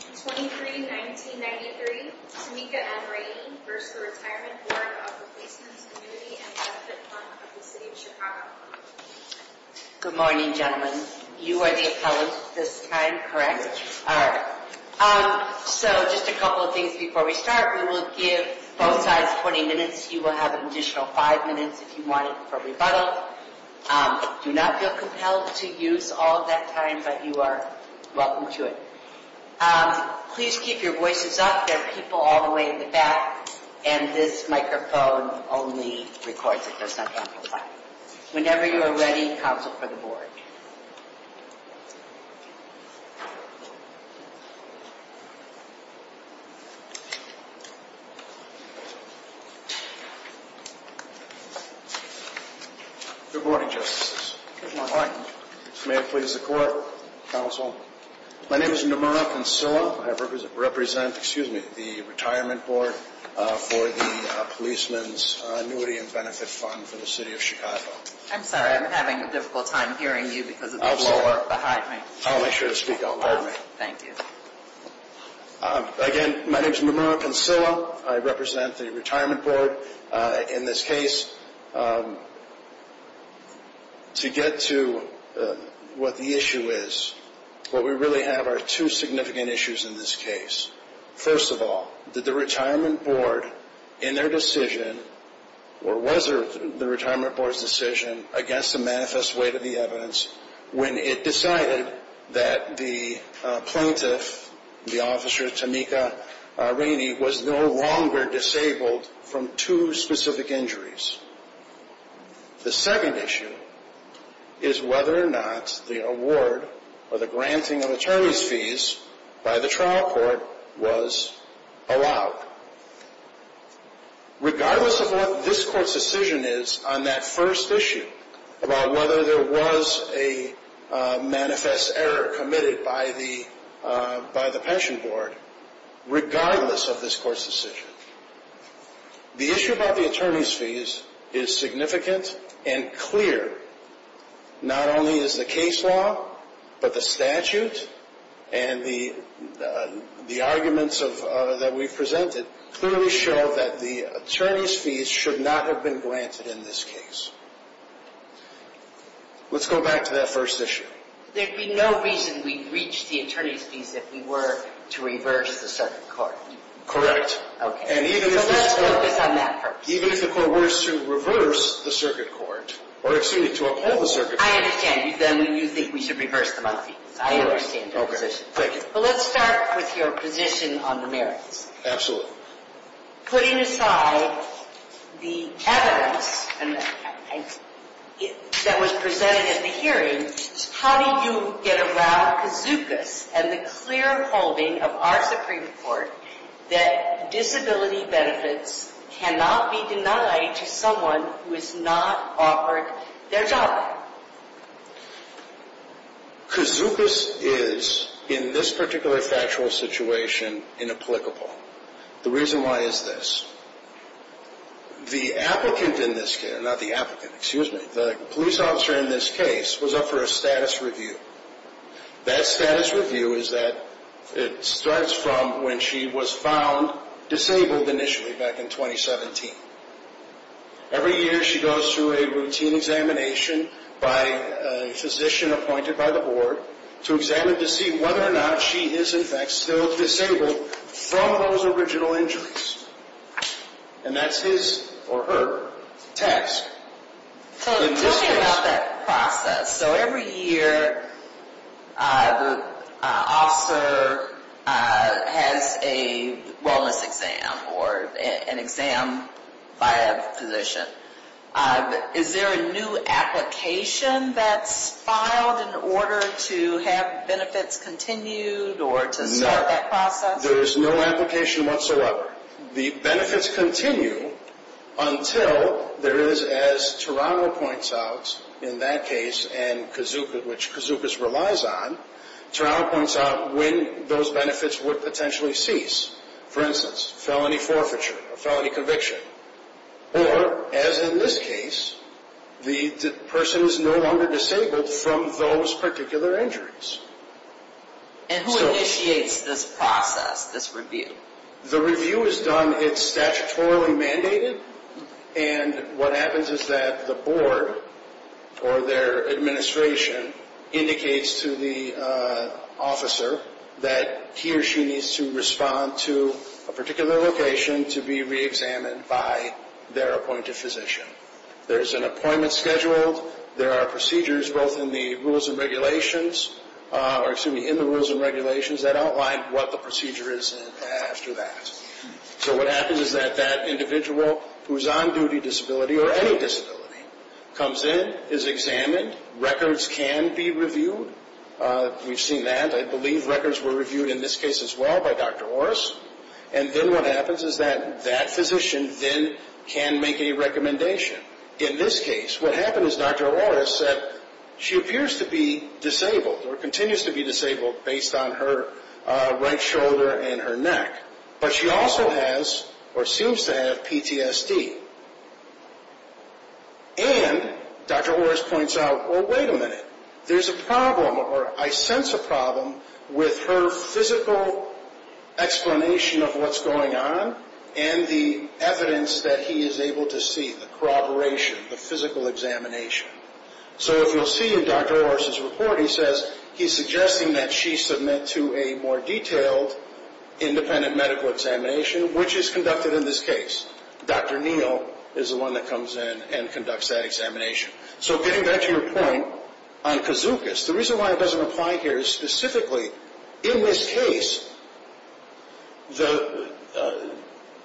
23-19-93 Tameka N. Rayney v. The Retirement Board of the Policemen's Annuity & Benefit Fund of the City of Chicago Please keep your voices up. There are people all the way in the back and this microphone only records it. Whenever you are ready, counsel for the board. Good morning, justices. May it please the court, counsel. My name is Nomura Kansilla. I represent the Retirement Board for the Policemen's Annuity & Benefit Fund for the City of Chicago. I'm sorry, I'm having a difficult time hearing you because of the people behind me. I'll make sure to speak out loud. Thank you. Again, my name is Nomura Kansilla. I represent the Retirement Board. In this case, to get to what the issue is, what we really have are two significant issues in this case. First of all, did the Retirement Board, in their decision, or was the Retirement Board's decision against the manifest weight of the evidence when it decided that the plaintiff, the officer Tameka Rayney, was no longer disabled from two specific injuries? The second issue is whether or not the award or the granting of attorney's fees by the trial court was allowed. Regardless of what this court's decision is on that first issue about whether there was a manifest error committed by the pension board, regardless of this court's decision, the issue about the attorney's fees is significant and clear. Not only is the case law, but the statute and the arguments that we've presented clearly show that the attorney's fees should not have been granted in this case. Let's go back to that first issue. There'd be no reason we'd reach the attorney's fees if we were to reverse the circuit court. Correct. Let's focus on that first. Even if the court were to reverse the circuit court, or excuse me, to uphold the circuit court. I understand. Then you think we should reverse the manifest fees. I understand your position. Let's start with your position on the merits. Absolutely. Putting aside the evidence that was presented at the hearing, how do you get around Kazukas and the clear holding of our Supreme Court that disability benefits cannot be denied to someone who has not offered their job? Kazukas is, in this particular factual situation, inapplicable. The reason why is this. The police officer in this case was up for a status review. That status review starts from when she was found disabled initially, back in 2017. Every year she goes through a routine examination by a physician appointed by the board to examine to see whether or not she is in fact still disabled from those original injuries. And that's his, or her, task. Tell me about that process. So every year the officer has a wellness exam or an exam by a physician. Is there a new application that's filed in order to have benefits continued or to start that process? No. There is no application whatsoever. The benefits continue until there is, as Tarano points out in that case, which Kazukas relies on, Tarano points out when those benefits would potentially cease. For instance, felony forfeiture, a felony conviction. Or, as in this case, the person is no longer disabled from those particular injuries. And who initiates this process, this review? The review is done, it's statutorily mandated. And what happens is that the board, or their administration, indicates to the officer that he or she needs to respond to a particular location to be reexamined by their appointed physician. There's an appointment scheduled. There are procedures both in the rules and regulations that outline what the procedure is after that. So what happens is that that individual who is on duty disability, or any disability, comes in, is examined. Records can be reviewed. We've seen that. I believe records were reviewed in this case as well by Dr. Orris. And then what happens is that that physician then can make a recommendation. In this case, what happens is Dr. Orris said she appears to be disabled, or continues to be disabled, based on her right shoulder and her neck. But she also has, or seems to have, PTSD. And Dr. Orris points out, well, wait a minute. There's a problem, or I sense a problem, with her physical explanation of what's going on and the evidence that he is able to see, the corroboration, the physical examination. So if you'll see in Dr. Orris's report, he says he's suggesting that she submit to a more detailed independent medical examination, which is conducted in this case. Dr. Neal is the one that comes in and conducts that examination. So getting back to your point on kazookas, the reason why it doesn't apply here is specifically, in this case,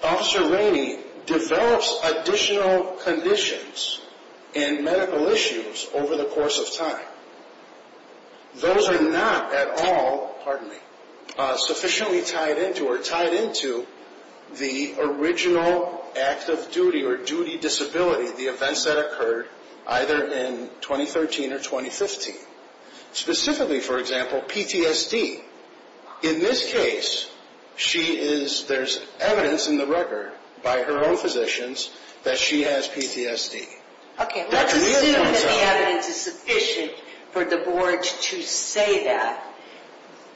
Officer Rainey develops additional conditions and medical issues over the course of time. Those are not at all, pardon me, sufficiently tied into or tied into the original act of duty or duty disability, the events that occurred either in 2013 or 2015. Specifically, for example, PTSD. In this case, she is, there's evidence in the record by her own physicians that she has PTSD. Okay, let's assume that the evidence is sufficient for the board to say that.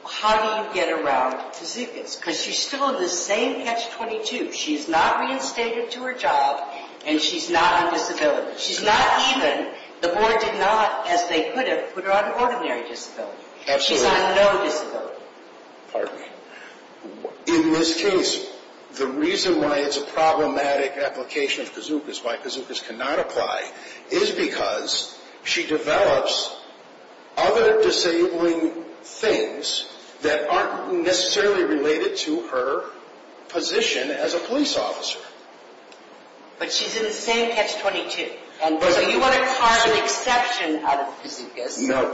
How do you get around kazookas? Because she's still in the same catch-22. She's not reinstated to her job, and she's not on disability. She's not even, the board did not, as they could have, put her on ordinary disability. She's on no disability. In this case, the reason why it's a problematic application of kazookas, why kazookas cannot apply, is because she develops other disabling things that aren't necessarily related to her position as a police officer. But she's in the same catch-22. So you want to carve an exception out of the kazookas. No.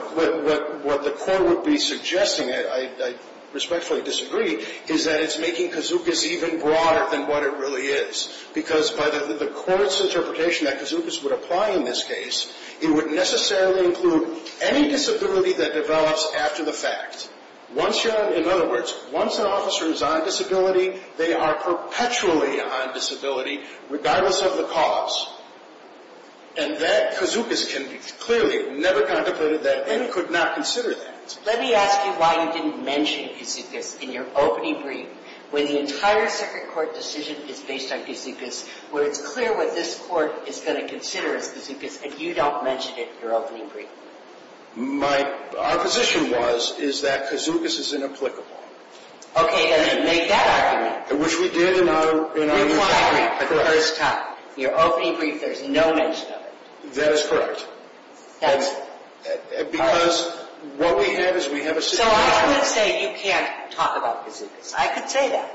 What the court would be suggesting, and I respectfully disagree, is that it's making kazookas even broader than what it really is. Because by the court's interpretation that kazookas would apply in this case, it would necessarily include any disability that develops after the fact. Once you're on, in other words, once an officer is on disability, they are perpetually on disability regardless of the cause. And that kazookas can clearly never contemplated that and could not consider that. Let me ask you why you didn't mention kazookas in your opening brief. When the entire second court decision is based on kazookas, where it's clear what this court is going to consider as kazookas, and you don't mention it in your opening brief. My, our position was, is that kazookas is inapplicable. Okay, then make that argument. Which we did in our, in our. In my brief for the first time. In your opening brief there's no mention of it. That is correct. That's. Because what we have is we have a. So I would say you can't talk about kazookas. I could say that.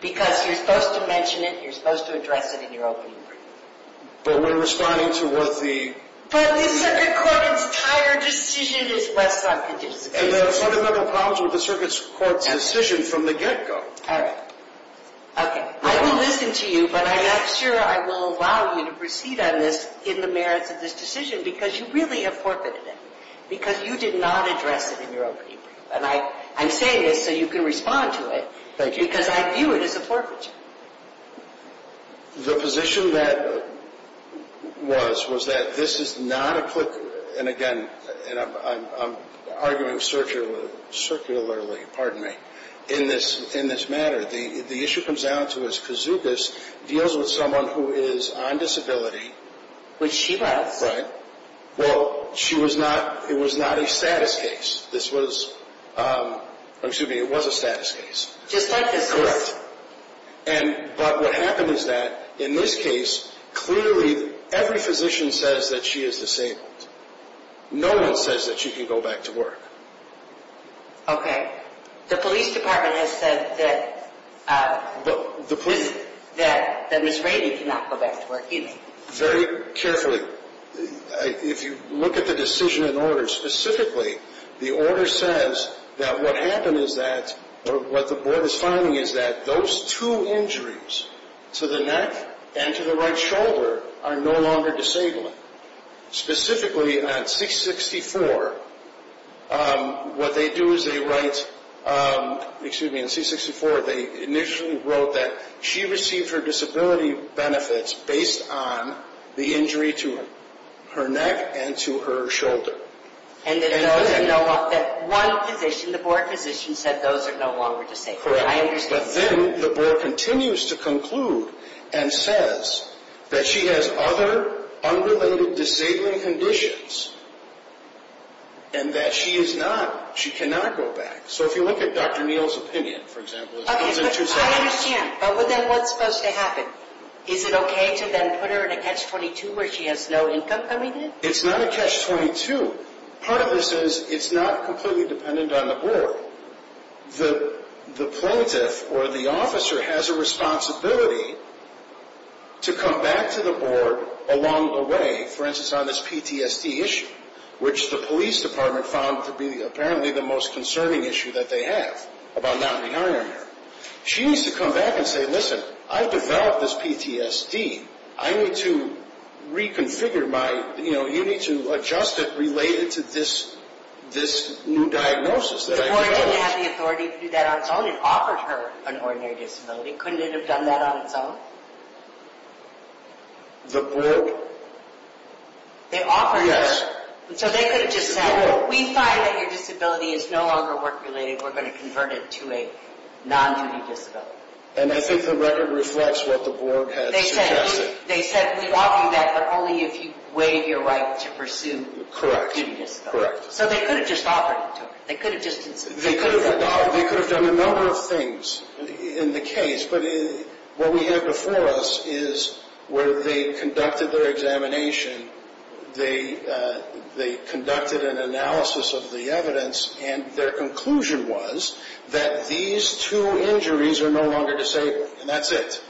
Because you're supposed to mention it, you're supposed to address it in your opening brief. But we're responding to what the. But the circuit court's entire decision is based on kazookas. And there are fundamental problems with the circuit court's decision from the get-go. All right. Okay. I will listen to you. But I'm not sure I will allow you to proceed on this in the merits of this decision. Because you really have forfeited it. Because you did not address it in your opening brief. And I, I'm saying this so you can respond to it. Thank you. Because I view it as a forfeiture. The position that was, was that this is not applicable. And again, and I'm, I'm, I'm arguing circularly. Circularly, pardon me. In this, in this matter. The issue comes down to is kazookas deals with someone who is on disability. Which she was. Well, she was not, it was not a status case. This was, excuse me, it was a status case. Just like this case. Correct. And, but what happened is that in this case, clearly every physician says that she is disabled. No one says that she can go back to work. Okay. The police department has said that, that Ms. Rady cannot go back to work either. Very carefully. If you look at the decision in order, specifically, the order says that what happened is that, what the board is finding is that those two injuries, to the neck and to the right shoulder, are no longer disabling. Specifically, on C-64, what they do is they write, excuse me, on C-64, they initially wrote that she received her disability benefits based on the injury to her neck and to her shoulder. And that those are no longer, that one physician, the board physician, said those are no longer disabling. Correct. I understand. But then the board continues to conclude and says that she has other unrelated disabling conditions. And that she is not, she cannot go back. So if you look at Dr. Neal's opinion, for example. Okay, but I understand. But then what's supposed to happen? Is it okay to then put her in a catch-22 where she has no income coming in? It's not a catch-22. Part of this is it's not completely dependent on the board. The plaintiff or the officer has a responsibility to come back to the board along the way. For instance, on this PTSD issue, which the police department found to be apparently the most concerning issue that they have about not rehiring her. She needs to come back and say, listen, I've developed this PTSD. I need to reconfigure my, you know, you need to adjust it related to this new diagnosis. The board didn't have the authority to do that on its own. It offered her an ordinary disability. Couldn't it have done that on its own? The board? They offered her. Yes. So they could have just said, we find that your disability is no longer work-related. We're going to convert it to a non-duty disability. And I think the record reflects what the board had suggested. They said, we offer you that but only if you waive your right to pursue a duty disability. Correct. So they could have just offered it to her. They could have done a number of things in the case. But what we have before us is where they conducted their examination, they conducted an analysis of the evidence, and their conclusion was that these two injuries are no longer disabled. And that's it.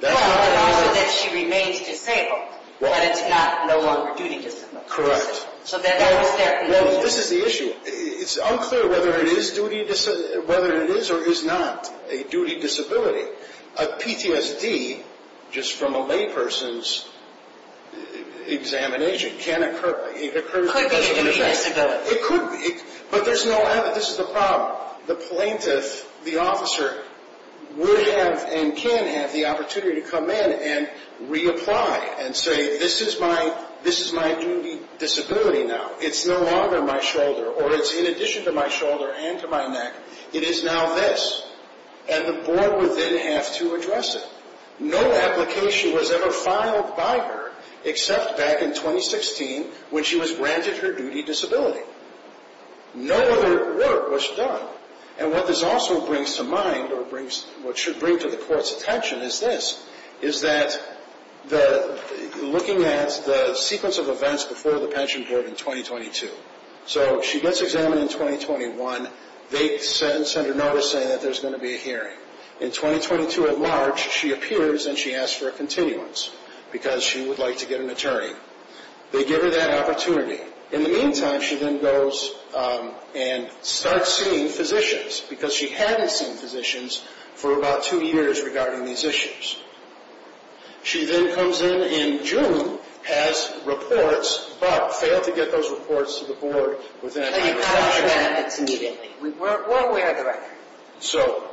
No, but also that she remains disabled. But it's not no longer duty disabled. Correct. So that was their conclusion. Well, this is the issue. It's unclear whether it is or is not a duty disability. A PTSD, just from a layperson's examination, can occur. It could be a duty disability. It could be. But there's no evidence. This is the problem. The plaintiff, the officer, would have and can have the opportunity to come in and reapply and say, this is my duty disability now. It's no longer my shoulder or it's in addition to my shoulder and to my neck. It is now this. And the board would then have to address it. No application was ever filed by her except back in 2016 when she was granted her duty disability. No other work was done. And what this also brings to mind or what should bring to the court's attention is this, is that looking at the sequence of events before the pension board in 2022. So she gets examined in 2021. They send a notice saying that there's going to be a hearing. In 2022 at large, she appears and she asks for a continuance because she would like to get an attorney. They give her that opportunity. In the meantime, she then goes and starts seeing physicians because she hadn't seen physicians for about two years regarding these issues. She then comes in in June, has reports, but failed to get those reports to the board within a year. And you capture that immediately. We weren't aware of the record. So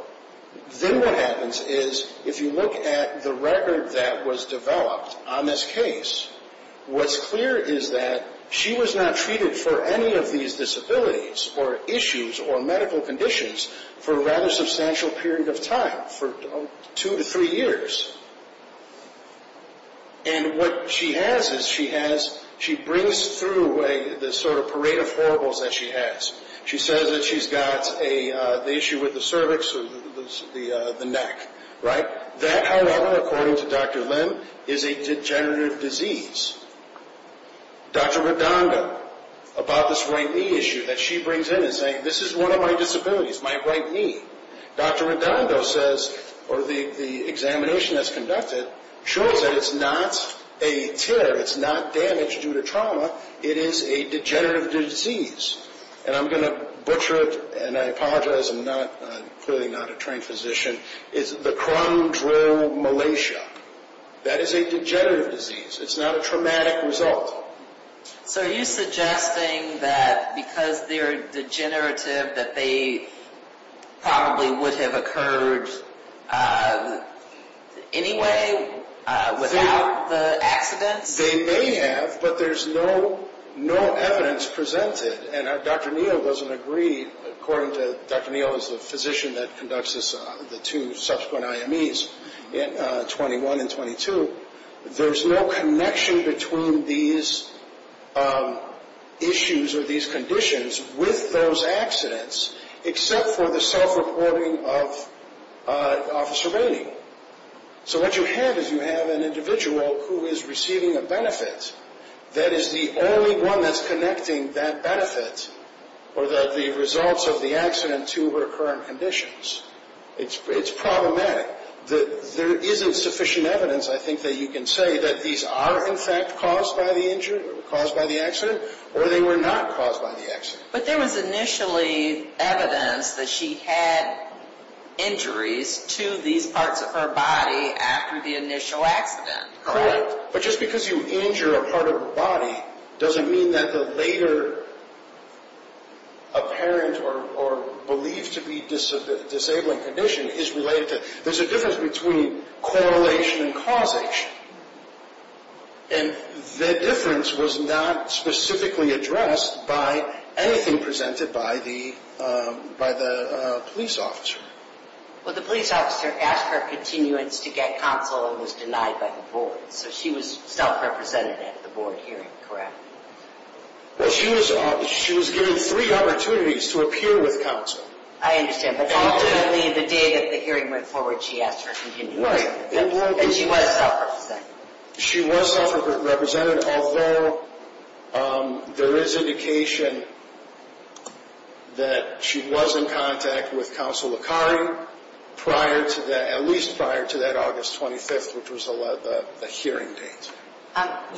then what happens is if you look at the record that was developed on this case, what's clear is that she was not treated for any of these disabilities or issues or medical conditions for a rather substantial period of time, for two to three years. And what she has is she brings through the sort of parade of horribles that she has. She says that she's got the issue with the cervix or the neck. That, however, according to Dr. Lim, is a degenerative disease. Dr. Redondo, about this right knee issue that she brings in is saying, this is one of my disabilities, my right knee. Dr. Redondo says, or the examination that's conducted, shows that it's not a tear. It's not damage due to trauma. It is a degenerative disease. And I'm going to butcher it, and I apologize. I'm clearly not a trained physician. It's the crumb drill malacia. That is a degenerative disease. It's not a traumatic result. So are you suggesting that because they're degenerative that they probably would have occurred anyway without the accidents? They may have, but there's no evidence presented. And Dr. Neal doesn't agree. According to Dr. Neal, who's the physician that conducts the two subsequent IMEs, 21 and 22, there's no connection between these issues or these conditions with those accidents, except for the self-reporting of officer rating. So what you have is you have an individual who is receiving a benefit that is the only one that's connecting that benefit or the results of the accident to her current conditions. It's problematic. There isn't sufficient evidence, I think, that you can say that these are, in fact, caused by the injury, caused by the accident, or they were not caused by the accident. But there was initially evidence that she had injuries to these parts of her body after the initial accident, correct? Correct. But just because you injure a part of her body doesn't mean that the later apparent or believed to be disabling condition is related to it. There's a difference between correlation and causation. And that difference was not specifically addressed by anything presented by the police officer. Well, the police officer asked for a continuance to get counsel and was denied by the board. So she was self-represented at the board hearing, correct? Well, she was given three opportunities to appear with counsel. I understand. But ultimately, the day that the hearing went forward, she asked for a continuance. Right. And she was self-represented. She was self-represented, although there is indication that she was in contact with counsel Akari prior to that, at least prior to that August 25th, which was the hearing date.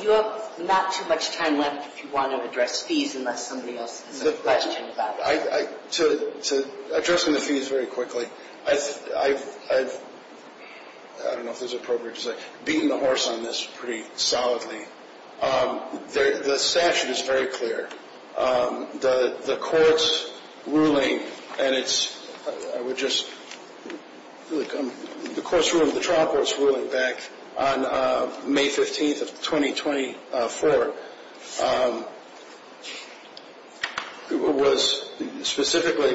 You have not too much time left if you want to address fees, unless somebody else has a question about it. To address the fees very quickly, I don't know if this is appropriate to say, beaten the horse on this pretty solidly. The statute is very clear. The court's ruling, and it's, I would just, the court's ruling, the trial court's ruling back on May 15th of 2024, was specifically,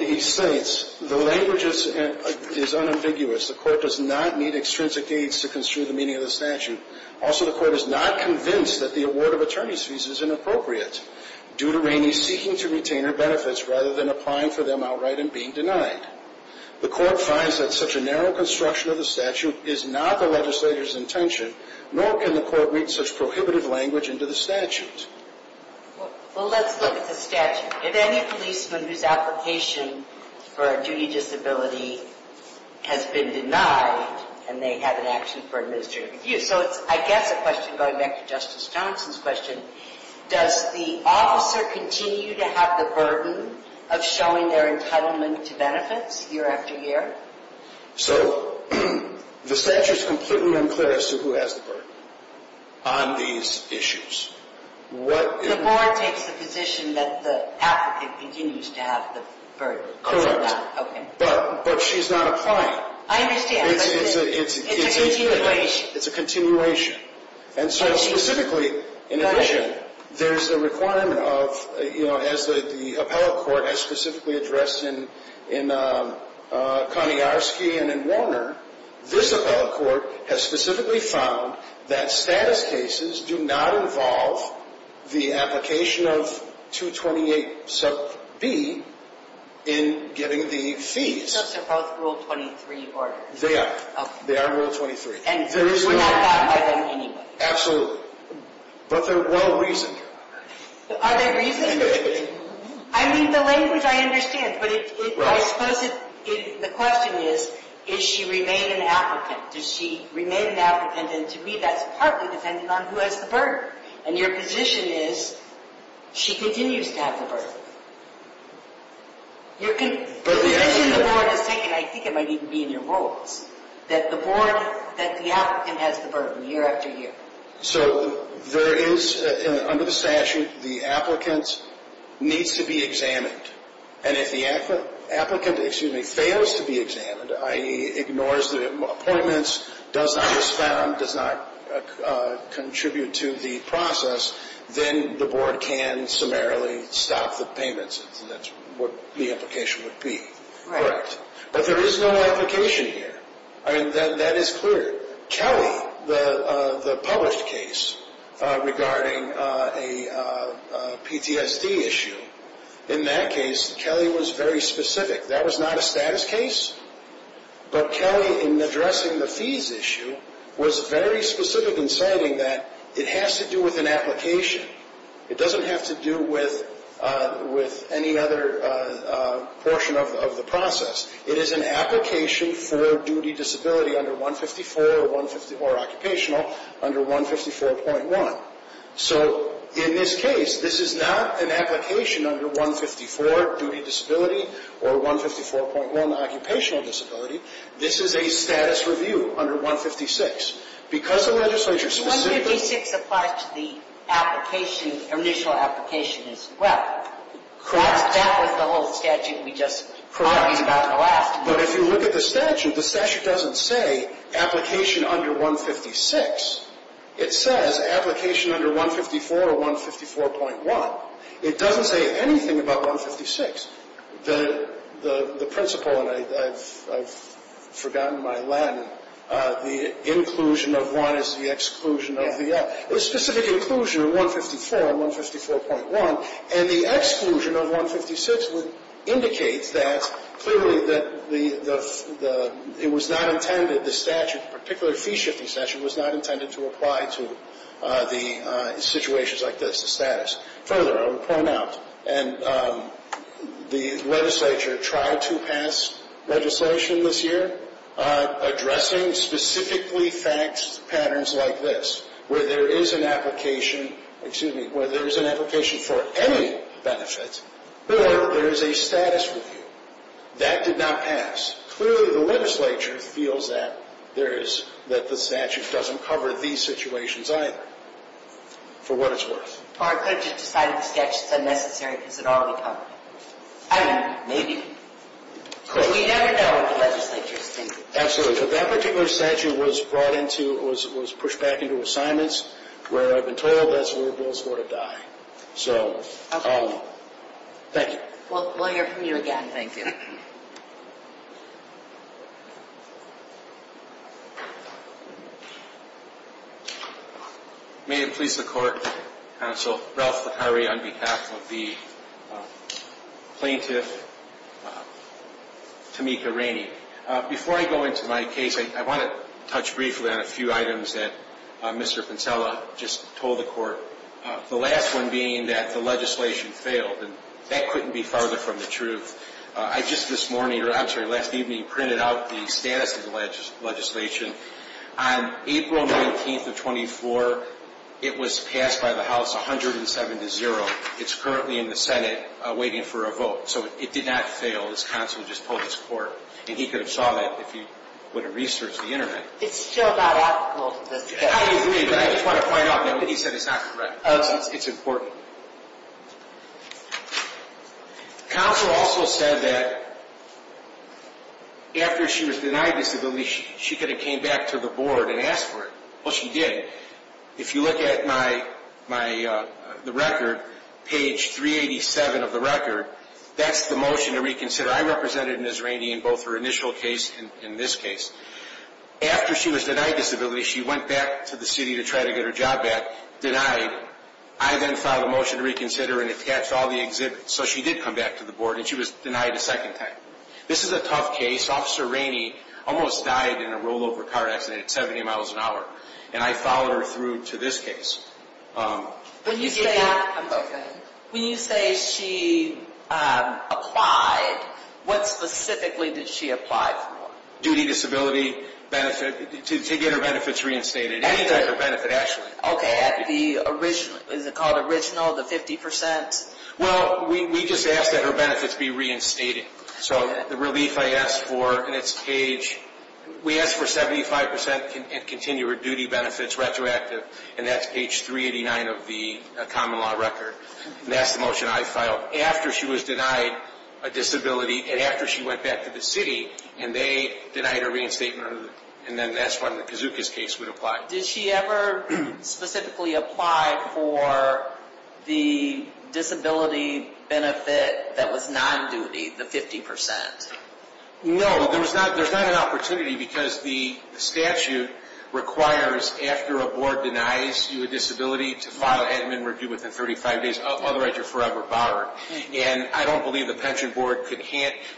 he states, the language is unambiguous. The court does not need extrinsic aides to construe the meaning of the statute. Also, the court is not convinced that the award of attorney's fees is inappropriate, due to Rainey seeking to retain her benefits rather than applying for them outright and being denied. The court finds that such a narrow construction of the statute is not the legislator's intention, nor can the court read such prohibitive language into the statute. Well, let's look at the statute. If any policeman whose application for a duty disability has been denied, and they have an action for administrative abuse. So it's, I guess, a question, going back to Justice Johnson's question, does the officer continue to have the burden of showing their entitlement to benefits year after year? So, the statute's completely unclear as to who has the burden on these issues. The board takes the position that the applicant continues to have the burden. Correct. Okay. But she's not applying. I understand, but it's a continuation. It's a continuation. And so, specifically, in addition, there's a requirement of, you know, as the appellate court has specifically addressed in Kaniarski and in Warner, this appellate court has specifically found that status cases do not involve the application of 228 sub B in getting the fees. So they're both Rule 23 orders. They are. They are Rule 23. And we're not caught by them anyway. Absolutely. But they're well-reasoned. Are they reasoned? I mean, the language I understand. But I suppose the question is, does she remain an applicant? Does she remain an applicant? And to me, that's partly dependent on who has the burden. And your position is, she continues to have the burden. Your position the board has taken, I think it might even be in your rules, that the board, that the applicant has the burden year after year. So there is, under the statute, the applicant needs to be examined. And if the applicant fails to be examined, i.e., ignores the appointments, does not respond, does not contribute to the process, then the board can summarily stop the payments. That's what the application would be. Right. Correct. But there is no application here. I mean, that is clear. Kelly, the published case regarding a PTSD issue, in that case, Kelly was very specific. That was not a status case. But Kelly, in addressing the fees issue, was very specific in saying that it has to do with an application. It doesn't have to do with any other portion of the process. It is an application for duty disability under 154 or occupational under 154.1. So, in this case, this is not an application under 154, duty disability, or 154.1, occupational disability. This is a status review under 156. Because the legislature specifically 156 applies to the application, initial application as well. Correct. That was the whole statute we just talked about in the last motion. But if you look at the statute, the statute doesn't say application under 156. It says application under 154 or 154.1. It doesn't say anything about 156. The principle, and I've forgotten my Latin, the inclusion of one is the exclusion of the other. The specific inclusion of 154 and 154.1, and the exclusion of 156 would indicate that, clearly that it was not intended, the statute, particularly the fee-shifting statute, was not intended to apply to the situations like this, the status. Further, I will point out, and the legislature tried to pass legislation this year addressing specifically faxed patterns like this, where there is an application, excuse me, where there is an application for any benefit, or there is a status review. That did not pass. Clearly, the legislature feels that there is, that the statute doesn't cover these situations either, for what it's worth. Or it could have just decided the statute's unnecessary because it already covered it. I don't know. Maybe. We never know what the legislature is thinking. Absolutely. So that particular statute was brought into, was pushed back into assignments, where I've been told that's where bills were to die. So, thank you. We'll hear from you again. Thank you. May it please the Court, Counsel Ralph Ficarri on behalf of the plaintiff, Tamika Rainey. Before I go into my case, I want to touch briefly on a few items that Mr. Pinsella just told the Court, the last one being that the legislation failed. And that couldn't be farther from the truth. I just this morning, or I'm sorry, last evening, printed out the status of the legislation. On April 19th of 24, it was passed by the House 107 to 0. It's currently in the Senate waiting for a vote. So it did not fail. This Counsel just told this Court, and he could have saw that if he would have researched the Internet. It's still not applicable to this case. I agree, but I just want to point out that what he said is not correct. It's important. Counsel also said that after she was denied disability, she could have came back to the Board and asked for it. Well, she did. If you look at the record, page 387 of the record, that's the motion to reconsider. I represented Ms. Rainey in both her initial case and this case. After she was denied disability, she went back to the city to try to get her job back. Denied. I then filed a motion to reconsider and attached all the exhibits. So she did come back to the Board, and she was denied a second time. This is a tough case. Officer Rainey almost died in a rollover car accident at 70 miles an hour. And I followed her through to this case. When you say she applied, what specifically did she apply for? Duty, disability, benefit, to get her benefits reinstated. Any type of benefit, actually. Okay. Is it called original, the 50%? Well, we just asked that her benefits be reinstated. So the relief I asked for, and it's page, we asked for 75% in continued duty benefits, retroactive. And that's page 389 of the common law record. And that's the motion I filed. After she was denied a disability, and after she went back to the city, and they denied her reinstatement. And then that's when Kazuka's case would apply. Did she ever specifically apply for the disability benefit that was non-duty, the 50%? No. There's not an opportunity because the statute requires, after a board denies you a disability, to file an admin review within 35 days, otherwise you're forever barred. And I don't believe the Pension Board could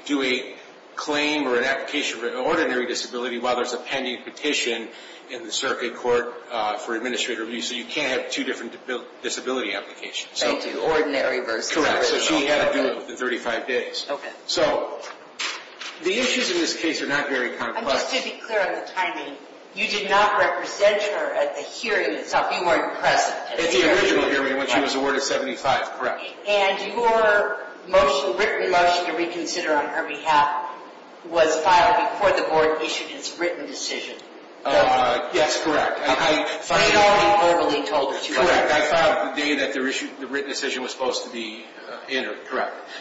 do a claim or an application for an ordinary disability while there's a pending petition in the circuit court for administrative review. So you can't have two different disability applications. So you do ordinary versus original. Correct. So she had to do it within 35 days. Okay. So the issues in this case are not very complex. And just to be clear on the timing, you did not represent her at the hearing itself. You weren't present at the hearing. At the original hearing when she was awarded 75, correct. And your written motion to reconsider on her behalf was filed before the board issued its written decision. Yes, correct. So it had already verbally told her to. Correct. I filed it the day that the written decision was supposed to be entered.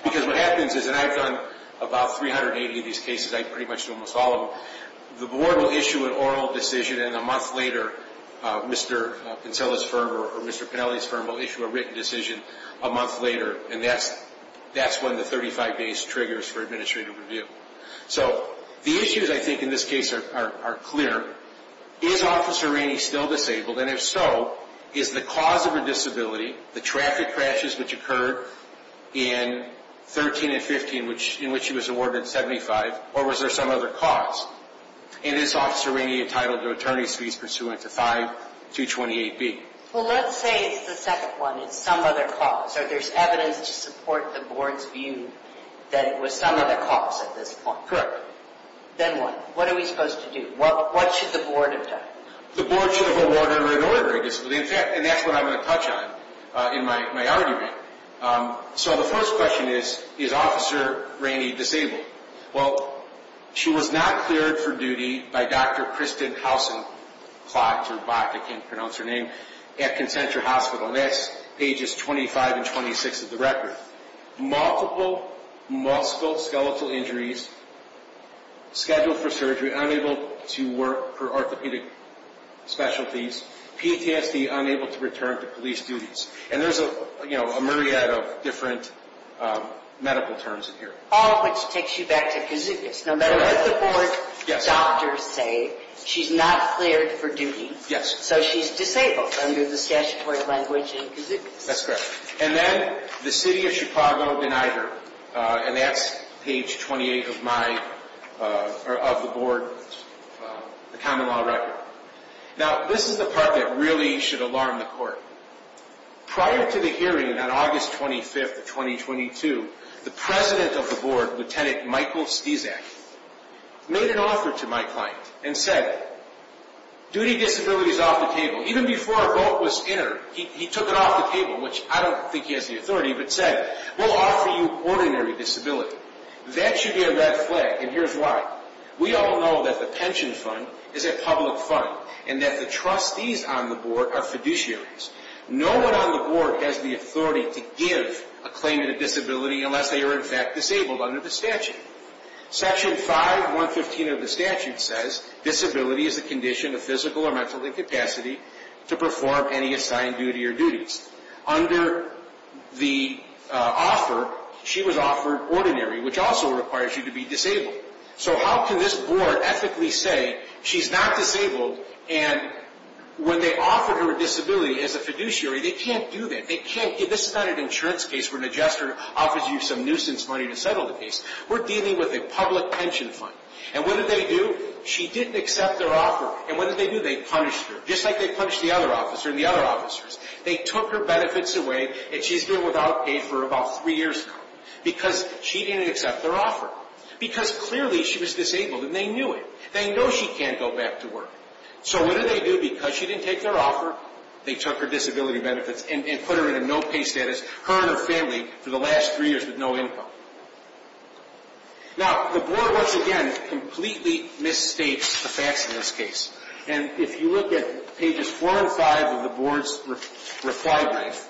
Because what happens is, and I've done about 380 of these cases. I pretty much do almost all of them. The board will issue an oral decision, and a month later, Mr. Pinsella's firm or Mr. Pennelly's firm will issue a written decision a month later. And that's when the 35 days triggers for administrative review. So the issues, I think, in this case are clear. Is Officer Rainey still disabled? And if so, is the cause of her disability the traffic crashes which occurred in 13 and 15, in which she was awarded 75, or was there some other cause? And is Officer Rainey entitled to attorney's fees pursuant to 5228B? Well, let's say it's the second one. It's some other cause. So there's evidence to support the board's view that it was some other cause at this point. Then what? What are we supposed to do? What should the board have done? The board should have awarded her an ordinary disability. In fact, and that's what I'm going to touch on in my argument. So the first question is, is Officer Rainey disabled? Well, she was not cleared for duty by Dr. Kristen Hausen-Klotz, or Bach, I can't pronounce her name, at Concentra Hospital. And that's pages 25 and 26 of the record. Multiple musculoskeletal injuries, scheduled for surgery, unable to work for orthopedic specialties, PTSD, unable to return to police duties. And there's a myriad of different medical terms in here. All of which takes you back to Kizugis. No matter what the board doctors say, she's not cleared for duty. So she's disabled under the statutory language in Kizugis. That's correct. And then the city of Chicago denied her. And that's page 28 of the board's common law record. Now, this is the part that really should alarm the court. Prior to the hearing on August 25, 2022, the president of the board, Lieutenant Michael Stesak, made an offer to my client and said, duty disability is off the table. Even before a vote was entered, he took it off the table, which I don't think he has the authority, but said, we'll offer you ordinary disability. That should be a red flag, and here's why. We all know that the pension fund is a public fund, and that the trustees on the board are fiduciaries. No one on the board has the authority to give a claimant a disability unless they are, in fact, disabled under the statute. Section 5.115 of the statute says, disability is a condition of physical or mental incapacity to perform any assigned duty or duties. Under the offer, she was offered ordinary, which also requires you to be disabled. So how can this board ethically say, she's not disabled, and when they offered her a disability as a fiduciary, they can't do that. This is not an insurance case where Magister offers you some nuisance money to settle the case. We're dealing with a public pension fund. And what did they do? She didn't accept their offer. And what did they do? They punished her, just like they punished the other officer and the other officers. They took her benefits away, and she's been without pay for about three years now because she didn't accept their offer. Because clearly, she was disabled, and they knew it. They know she can't go back to work. So what did they do? Because she didn't take their offer, they took her disability benefits and put her in a no-pay status, her and her family, for the last three years with no income. Now, the board, once again, completely misstates the facts in this case. And if you look at pages 4 and 5 of the board's reply brief,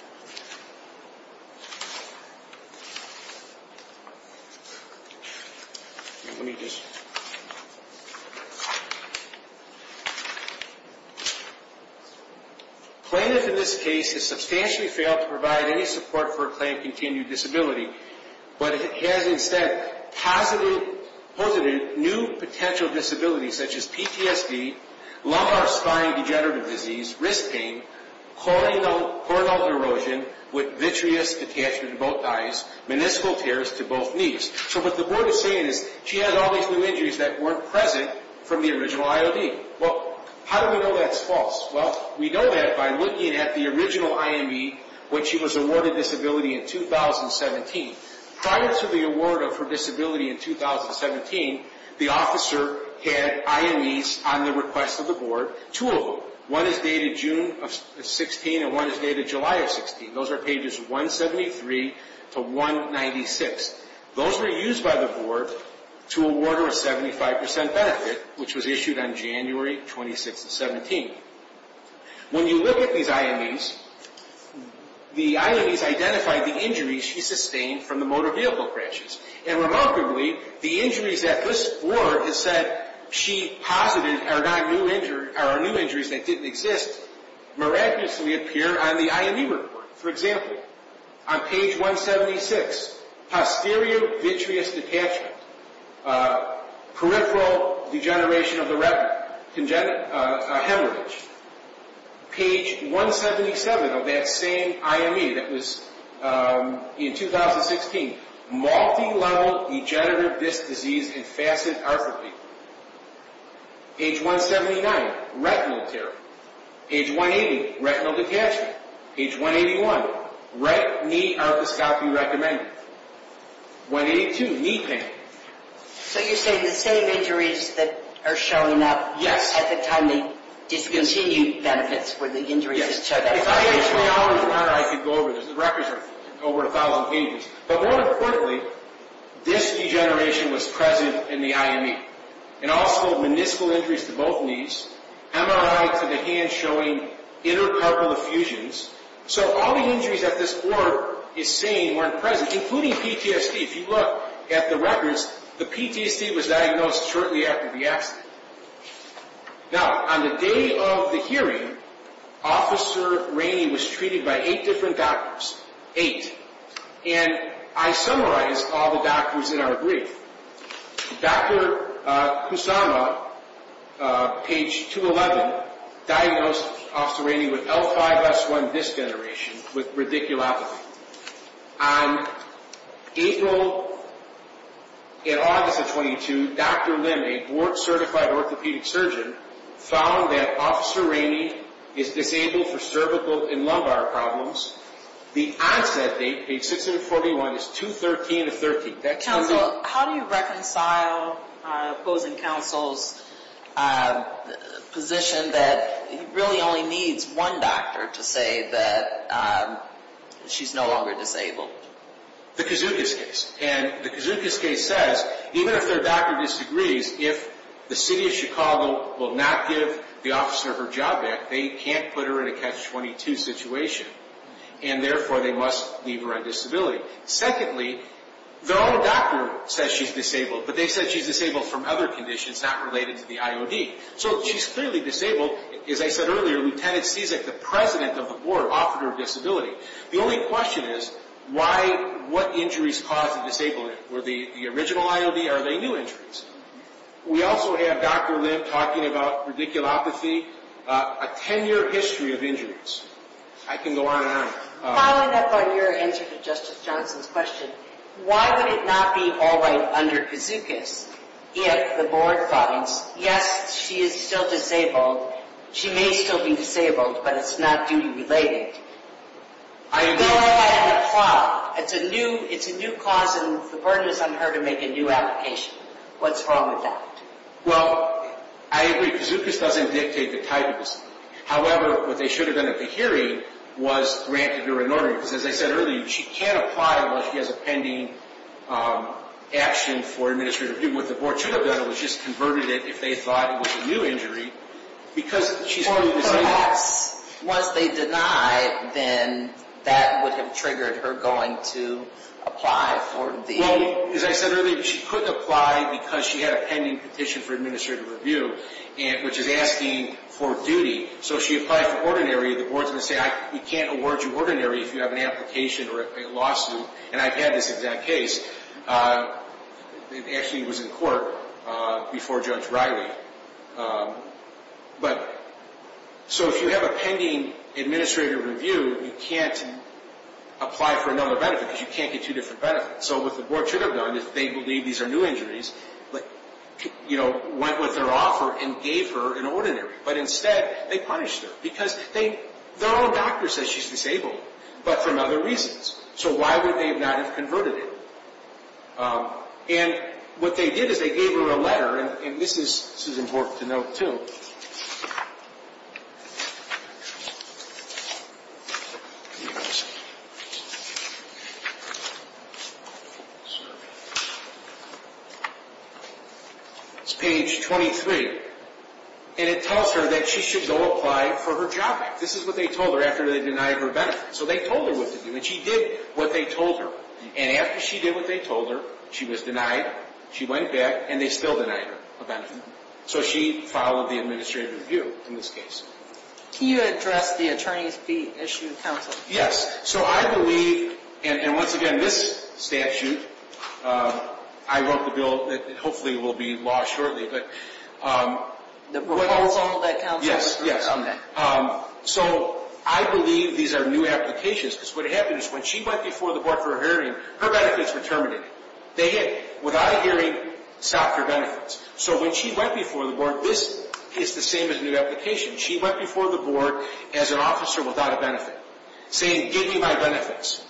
plaintiff in this case has substantially failed to provide any support for a claim of continued disability, but has instead posited new potential disabilities such as PTSD, So what the board is saying is she has all these new injuries that weren't present from the original IOD. Well, how do we know that's false? Well, we know that by looking at the original IME, which she was awarded disability in 2017. Prior to the award of her disability in 2017, the officer had IMEs on the request of the board, two of them. One is dated June of 16, and one is dated July of 16. Those are pages 173 to 196. Those were used by the board to award her a 75% benefit, which was issued on January 26 of 17. When you look at these IMEs, the IMEs identify the injuries she sustained from the motor vehicle crashes. And remarkably, the injuries that this board has said she posited are new injuries that didn't exist miraculously appear on the IME report. For example, on page 176, Page 177 of that same IME that was in 2016, So you're saying the same injuries that are showing up at the time they discontinued benefits were the injuries that showed up? Yes. If I had three hours' time, I could go over this. The records are over 1,000 pages. But more importantly, this degeneration was present in the IME. And also, municipal injuries to both knees, MRI to the hand showing inter-carpal effusions. So all the injuries that this board is saying weren't present, including PTSD. If you look at the records, the PTSD was diagnosed shortly after the accident. Now, on the day of the hearing, Officer Rainey was treated by eight different doctors. And I summarized all the doctors in our brief. Dr. Kusama, page 211, diagnosed Officer Rainey with L5-S1 disc degeneration with radiculopathy. On April and August of 22, Dr. Lim, a board-certified orthopedic surgeon, found that Officer Rainey is disabled for cervical and lumbar problems. The onset date, page 641, is 2-13-13. Counsel, how do you reconcile opposing counsel's position that he really only needs one doctor to say that she's no longer disabled? The Kazookas case. And the Kazookas case says, even if their doctor disagrees, if the city of Chicago will not give the officer her job back, they can't put her in a catch-22 situation, and therefore they must leave her on disability. Secondly, their own doctor says she's disabled, but they said she's disabled from other conditions not related to the IOD. So she's clearly disabled. As I said earlier, Lieutenant Ciesek, the president of the board, offered her disability. The only question is, what injuries caused the disablement? Were they the original IOD, or are they new injuries? We also have Dr. Lim talking about radiculopathy, a 10-year history of injuries. I can go on and on. Following up on your answer to Justice Johnson's question, why would it not be all right under Kazookas if the board finds, yes, she is still disabled. She may still be disabled, but it's not duty-related. I agree. It's a new cause, and the burden is on her to make a new application. What's wrong with that? Well, I agree. Kazookas doesn't dictate the type of disability. However, what they should have done at the hearing was granted her an order, because as I said earlier, she can't apply unless she has a pending action for administrative review. What the board should have done was just converted it, if they thought it was a new injury, because she's clearly disabled. Perhaps once they deny, then that would have triggered her going to apply for the… Well, as I said earlier, she couldn't apply because she had a pending petition for administrative review, which is asking for duty. So if she applied for ordinary, the board's going to say, we can't award you ordinary if you have an application or a lawsuit, and I've had this exact case. It actually was in court before Judge Riley. So if you have a pending administrative review, you can't apply for another benefit, because you can't get two different benefits. So what the board should have done, if they believe these are new injuries, went with their offer and gave her an ordinary. But instead, they punished her, because their own doctor says she's disabled, but for other reasons. So why would they not have converted it? And what they did is they gave her a letter, and this is important to note, too. It's page 23, and it tells her that she should go apply for her job back. This is what they told her after they denied her benefit. So they told her what to do, and she did what they told her. And after she did what they told her, she was denied, she went back, and they still denied her a benefit. So she followed the administrative review in this case. Can you address the attorney's fee issue counsel? Yes. So I believe, and once again, this statute, I wrote the bill that hopefully will be in law shortly. The proposal that counsel referred to? Yes, yes. Okay. So I believe these are new applications, because what happened is when she went before the board for a hearing, her benefits were terminated. They hid. Without a hearing, stop your benefits. So when she went before the board, this is the same as a new application. She went before the board as an officer without a benefit, saying, give me my benefits.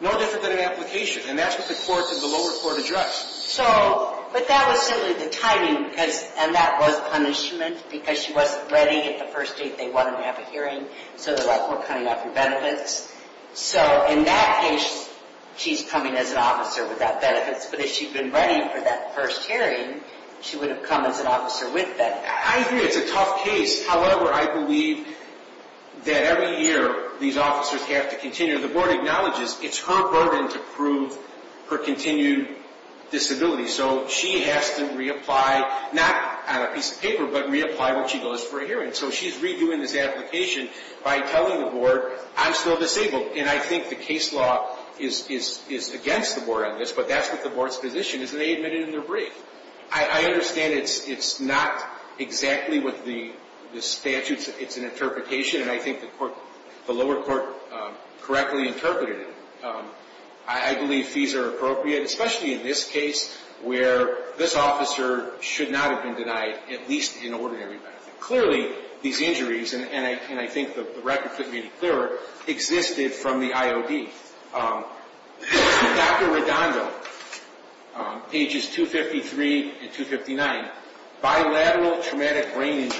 No different than an application, and that's what the court in the lower court addressed. So, but that was simply the timing, and that was punishment because she wasn't ready at the first date. They wanted to have a hearing, so they're like, we're cutting off your benefits. So in that case, she's coming as an officer without benefits, but if she'd been ready for that first hearing, she would have come as an officer with benefits. I agree. It's a tough case. However, I believe that every year these officers have to continue. The board acknowledges it's her burden to prove her continued disability, so she has to reapply, not on a piece of paper, but reapply when she goes for a hearing. So she's redoing this application by telling the board, I'm still disabled, and I think the case law is against the board on this, but that's what the board's position is, and they admit it in their brief. I understand it's not exactly what the statute, it's an interpretation, and I think the lower court correctly interpreted it. I believe fees are appropriate, especially in this case, where this officer should not have been denied at least an ordinary benefit. Clearly, these injuries, and I think the record could be clearer, existed from the IOD. Dr. Redondo, ages 253 and 259, bilateral traumatic brain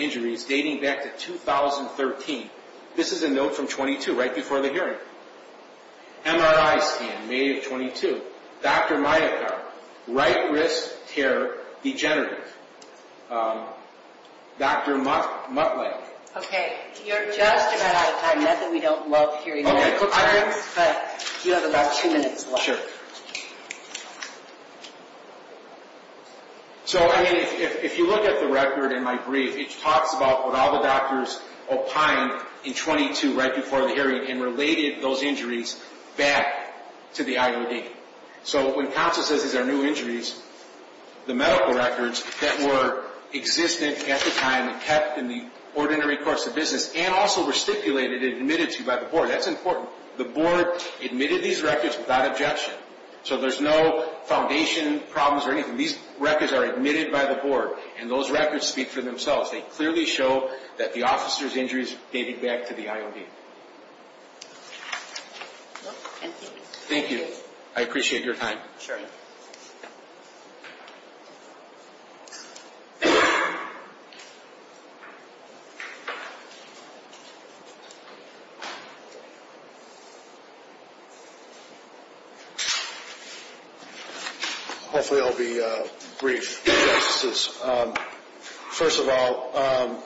injuries dating back to 2013. This is a note from 22, right before the hearing. MRI scan, May of 22. Dr. Mayakar, right wrist tear degenerative. Dr. Muttley. Okay, you're just about out of time. Nothing we don't love here in medical terms, but you have about two minutes left. Sure. So, I mean, if you look at the record in my brief, it talks about what all the doctors opined in 22, right before the hearing, and related those injuries back to the IOD. So when CONSA says these are new injuries, the medical records that were existent at the time and kept in the ordinary course of business, and also were stipulated and admitted to by the board, that's important. The board admitted these records without objection. So there's no foundation problems or anything. These records are admitted by the board, and those records speak for themselves. They clearly show that the officers' injuries dated back to the IOD. Thank you. I appreciate your time. Sure. Hopefully, I'll be brief. Justices, first of all,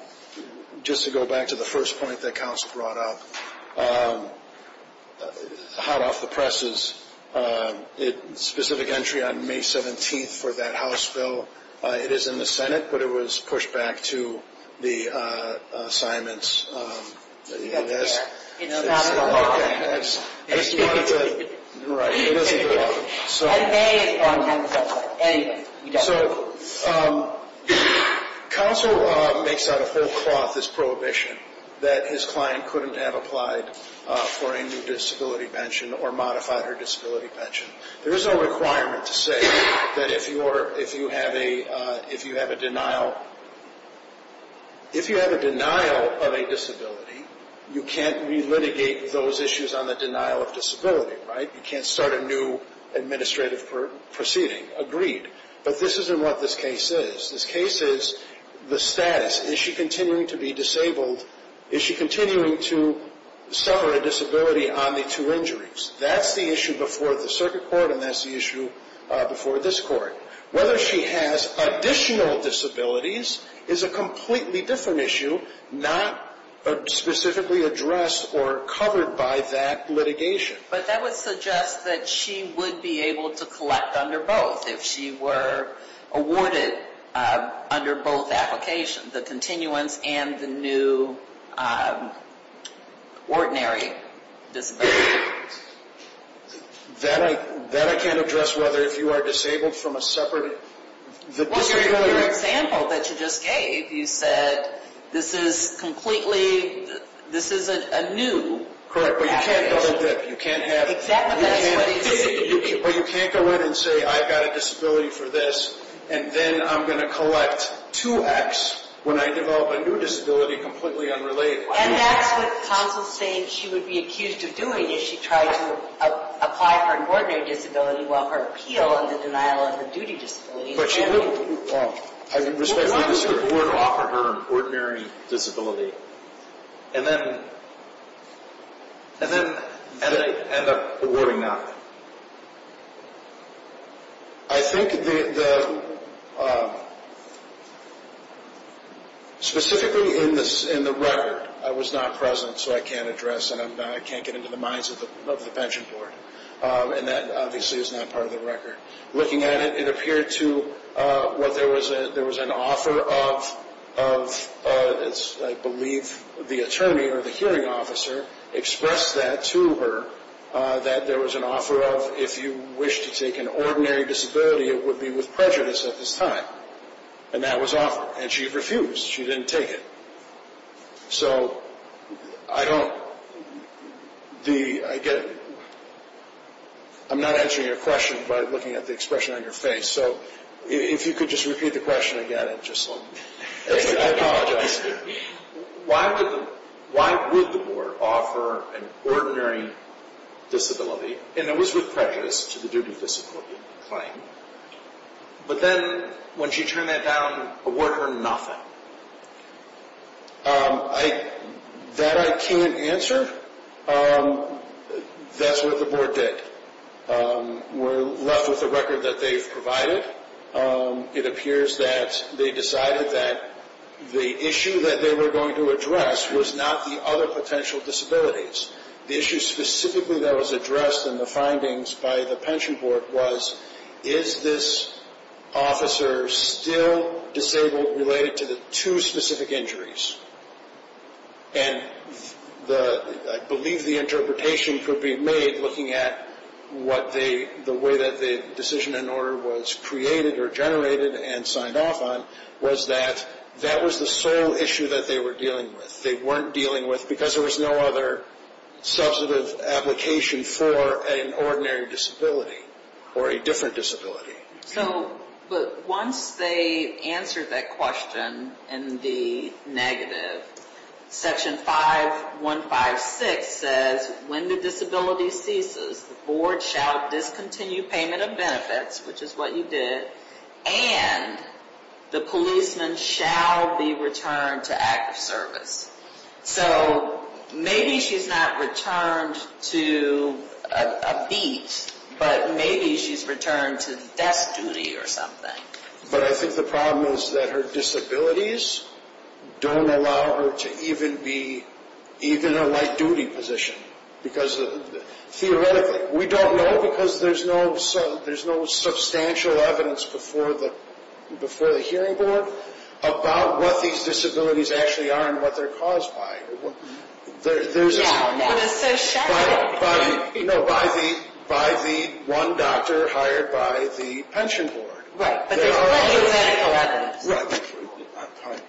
just to go back to the first point that counsel brought up, hot off the presses, specific entry on May 17th for that House bill. It is in the Senate, but it was pushed back to the assignments. It's not a law. Right, it doesn't matter. So counsel makes out a whole cloth, this prohibition, that his client couldn't have applied for a new disability pension or modified her disability pension. There is no requirement to say that if you have a denial of a disability, you can't re-litigate those issues on the denial of disability, right? You can't start a new administrative proceeding. Agreed. But this isn't what this case is. This case is the status. Is she continuing to be disabled? Is she continuing to suffer a disability on the two injuries? That's the issue before the circuit court, and that's the issue before this court. Whether she has additional disabilities is a completely different issue, not specifically addressed or covered by that litigation. But that would suggest that she would be able to collect under both if she were awarded under both applications, the continuance and the new ordinary disability. That I can't address whether if you are disabled from a separate... Well, your example that you just gave, you said this is completely, this is a new application. Correct, but you can't go in and say, I've got a disability for this, and then I'm going to collect 2X when I develop a new disability completely unrelated. And that's what counsel is saying she would be accused of doing is she tried to apply for an ordinary disability while her appeal on the denial of her duty disability... Why does the court offer her an ordinary disability and then end up awarding that? I think the... Specifically in the record, I was not present so I can't address and I can't get into the minds of the bench and board. And that obviously is not part of the record. Looking at it, it appeared to... There was an offer of, I believe, the attorney or the hearing officer expressed that to her, that there was an offer of if you wish to take an ordinary disability, it would be with prejudice at this time. And that was offered, and she refused, she didn't take it. So, I don't... The... I get... I'm not answering your question by looking at the expression on your face. So, if you could just repeat the question again and just let me... I apologize. Why would the board offer an ordinary disability, and it was with prejudice to the duty disability claim, but then when she turned that down, award her nothing? That I can't answer. That's what the board did. We're left with the record that they've provided. It appears that they decided that the issue that they were going to address was not the other potential disabilities. The issue specifically that was addressed in the findings by the pension board was, is this officer still disabled related to the two specific injuries? And the... I believe the interpretation could be made looking at what they... the way that the decision and order was created or generated and signed off on, was that that was the sole issue that they were dealing with. They weren't dealing with... because there was no other substantive application for an ordinary disability or a different disability. So, but once they answered that question in the negative, section 5156 says, when the disability ceases, the board shall discontinue payment of benefits, which is what you did, and the policeman shall be returned to active service. So, maybe she's not returned to a beat, but maybe she's returned to desk duty or something. But I think the problem is that her disabilities don't allow her to even be in a light-duty position because theoretically... We don't know because there's no substantial evidence before the hearing board about what these disabilities actually are and what they're caused by. Yeah, but it's so shabby. No, by the one doctor hired by the pension board. Right, but there's plenty of medical evidence.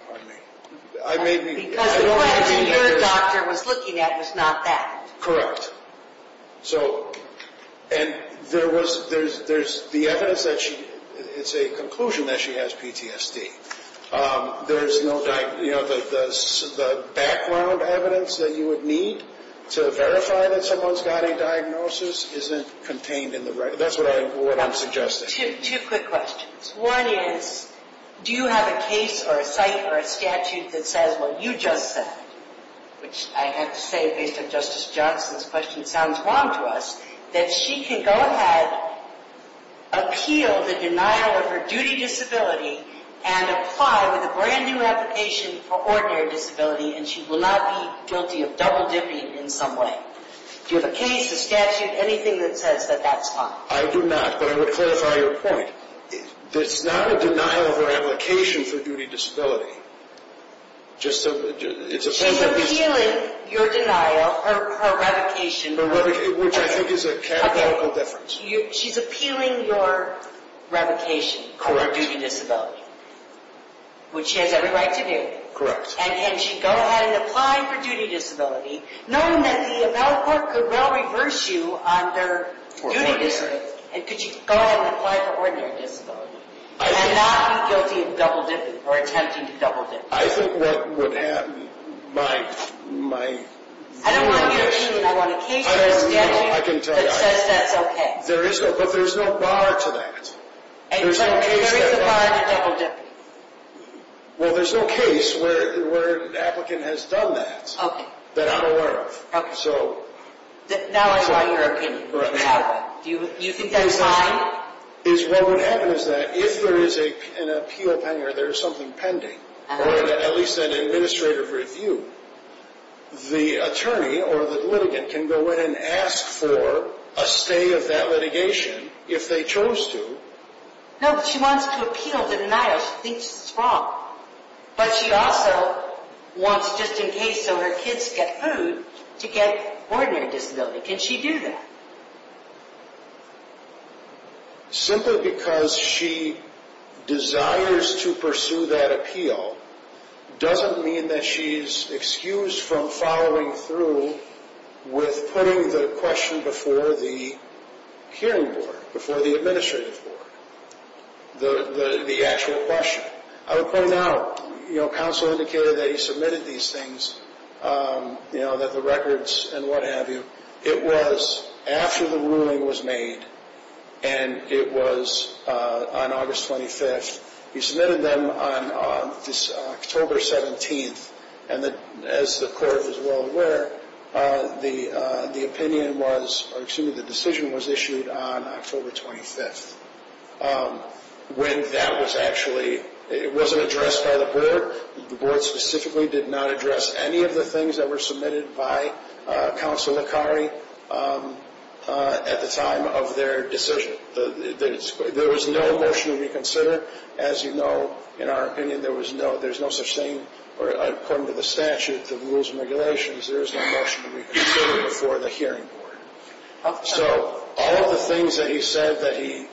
Pardon me. Because the question your doctor was looking at was not that. Correct. So, and there was... There's the evidence that she... It's a conclusion that she has PTSD. There's no... The background evidence that you would need to verify that someone's got a diagnosis isn't contained in the record. That's what I'm suggesting. Two quick questions. One is, do you have a case or a site or a statute that says what you just said, which I have to say, based on Justice Johnson's question, sounds wrong to us, that she can go ahead, appeal the denial of her duty disability and apply with a brand-new application for ordinary disability and she will not be guilty of double-dipping in some way? Do you have a case, a statute, anything that says that that's fine? I do not, but I would clarify your point. It's not a denial of her application for duty disability. Just so... She's appealing your denial, her revocation... Which I think is a categorical difference. She's appealing your revocation for duty disability, which she has every right to do, and can she go ahead and apply for duty disability knowing that the appellate court could well reverse you under duty disability and could she go ahead and apply for ordinary disability and not be guilty of double-dipping or attempting to double-dip? I think what would happen, my... I don't want your opinion, I want a case or a statute that says that's okay. There is no, but there's no bar to that. There is a bar to double-dipping. Well, there's no case where an applicant has done that, that I'm aware of, so... Now I want your opinion. Do you think that's fine? What would happen is that if there is an appeal pending or there is something pending, or at least an administrative review, the attorney or the litigant can go in and ask for a stay of that litigation if they chose to. No, she wants to appeal the denial. She thinks it's wrong. But she also wants, just in case, so her kids get food, to get ordinary disability. Can she do that? Simply because she desires to pursue that appeal doesn't mean that she's excused from following through with putting the question before the hearing board, before the administrative board, the actual question. I would point out, you know, counsel indicated that he submitted these things, you know, that the records and what have you. It was after the ruling was made, and it was on August 25th. He submitted them on October 17th, and as the court is well aware, the opinion was, or excuse me, the decision was issued on October 25th. When that was actually, it wasn't addressed by the board. The board specifically did not address any of the things that were submitted by counsel Akari at the time of their decision. There was no motion to reconsider. As you know, in our opinion, there's no such thing, or according to the statute, the rules and regulations, there is no motion to reconsider before the hearing board. So all of the things that he said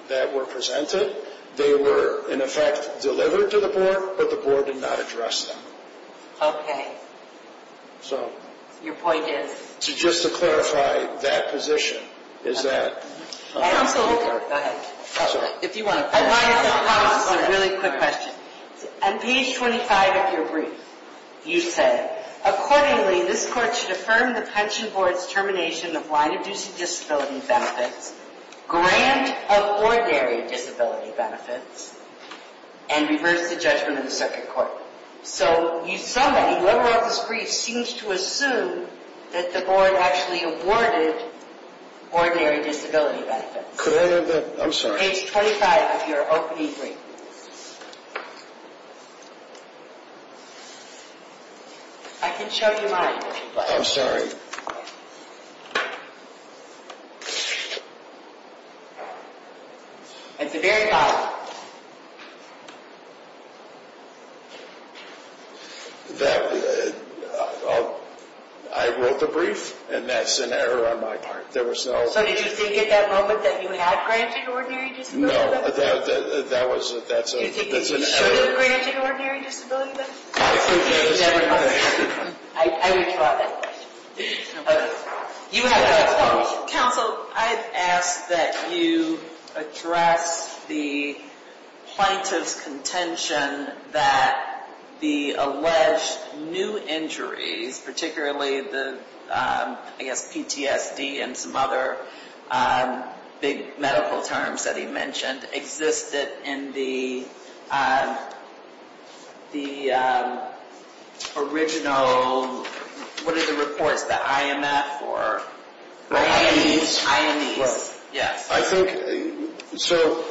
that were presented, they were, in effect, delivered to the board, but the board did not address them. Okay. Your point is? Just to clarify, that position is that counsel, go ahead. If you want to. I want to ask a really quick question. On page 25 of your brief, you said, accordingly, this court should affirm the pension board's termination of line-of-duty disability benefits, grant of ordinary disability benefits, and reverse the judgment of the circuit court. So somebody, whoever wrote this brief, seems to assume that the board actually awarded ordinary disability benefits. Could I have that? I'm sorry. Page 25 of your opening brief. I can show you mine. I'm sorry. At the very bottom. I wrote the brief, and that's an error on my part. So did you think at that moment that you had granted ordinary disability benefits? That's an error. You should have granted ordinary disability benefits? I would draw that question. Counsel, I've asked that you address the plaintiff's contention that the alleged new injuries, particularly the, I guess, PTSD and some other big medical terms that he mentioned, existed in the original, what are the reports, the IMF or? The IMEs. IMEs, yes. I think, so,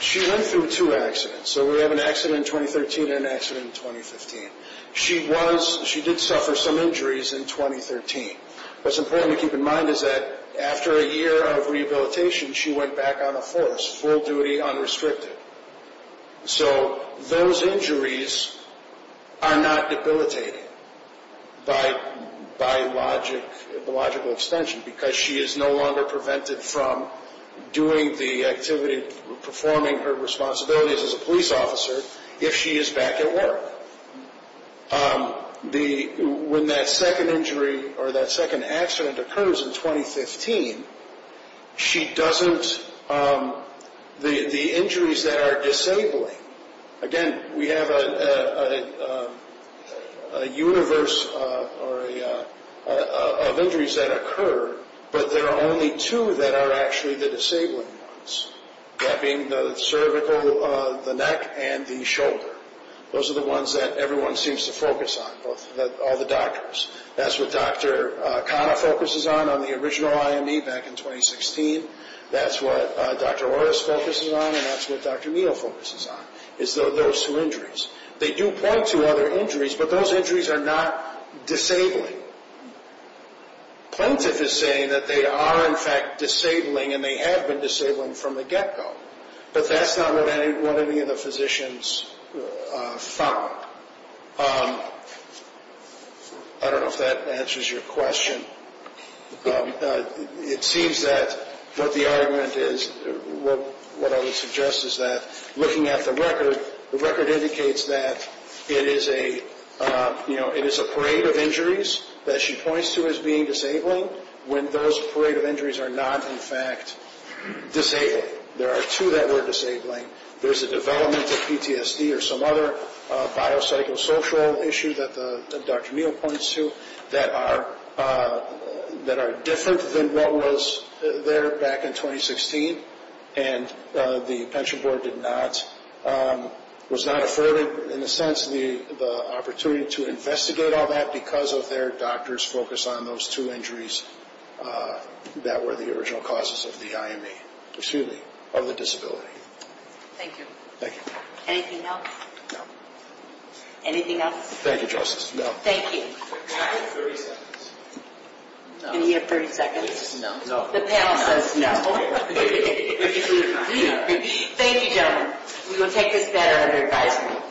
she went through two accidents. So we have an accident in 2013 and an accident in 2015. She was, she did suffer some injuries in 2013. What's important to keep in mind is that after a year of rehabilitation, she went back on the force, full duty, unrestricted. So those injuries are not debilitating by logical extension because she is no longer prevented from doing the activity, performing her responsibilities as a police officer if she is back at work. When that second injury or that second accident occurs in 2015, she doesn't, the injuries that are disabling, again, we have a universe of injuries that occur, but there are only two that are actually the disabling ones, that being the cervical, the neck, and the shoulder. Those are the ones that everyone seems to focus on, all the doctors. That's what Dr. Khanna focuses on on the original IME back in 2016. That's what Dr. Orris focuses on, and that's what Dr. Neal focuses on, is those two injuries. They do point to other injuries, but those injuries are not disabling. Plaintiff is saying that they are, in fact, disabling, and they have been disabling from the get-go, but that's not what any of the physicians found. I don't know if that answers your question. It seems that what the argument is, what I would suggest is that looking at the record, the record indicates that it is a parade of injuries that she points to as being disabling when those parade of injuries are not, in fact, disabling. There are two that were disabling. There's a development of PTSD or some other biopsychosocial issue that Dr. Neal points to that are different than what was there back in 2016, and the pension board was not afforded, in a sense, the opportunity to investigate all that because of their doctor's focus on those two injuries that were the original causes of the disability. Thank you. Thank you. Anything else? No. Anything else? Thank you, Justice. No. Thank you. Can I have 30 seconds? No. Can he have 30 seconds? No. The panel says no. Thank you, gentlemen. We will take this matter under advisement.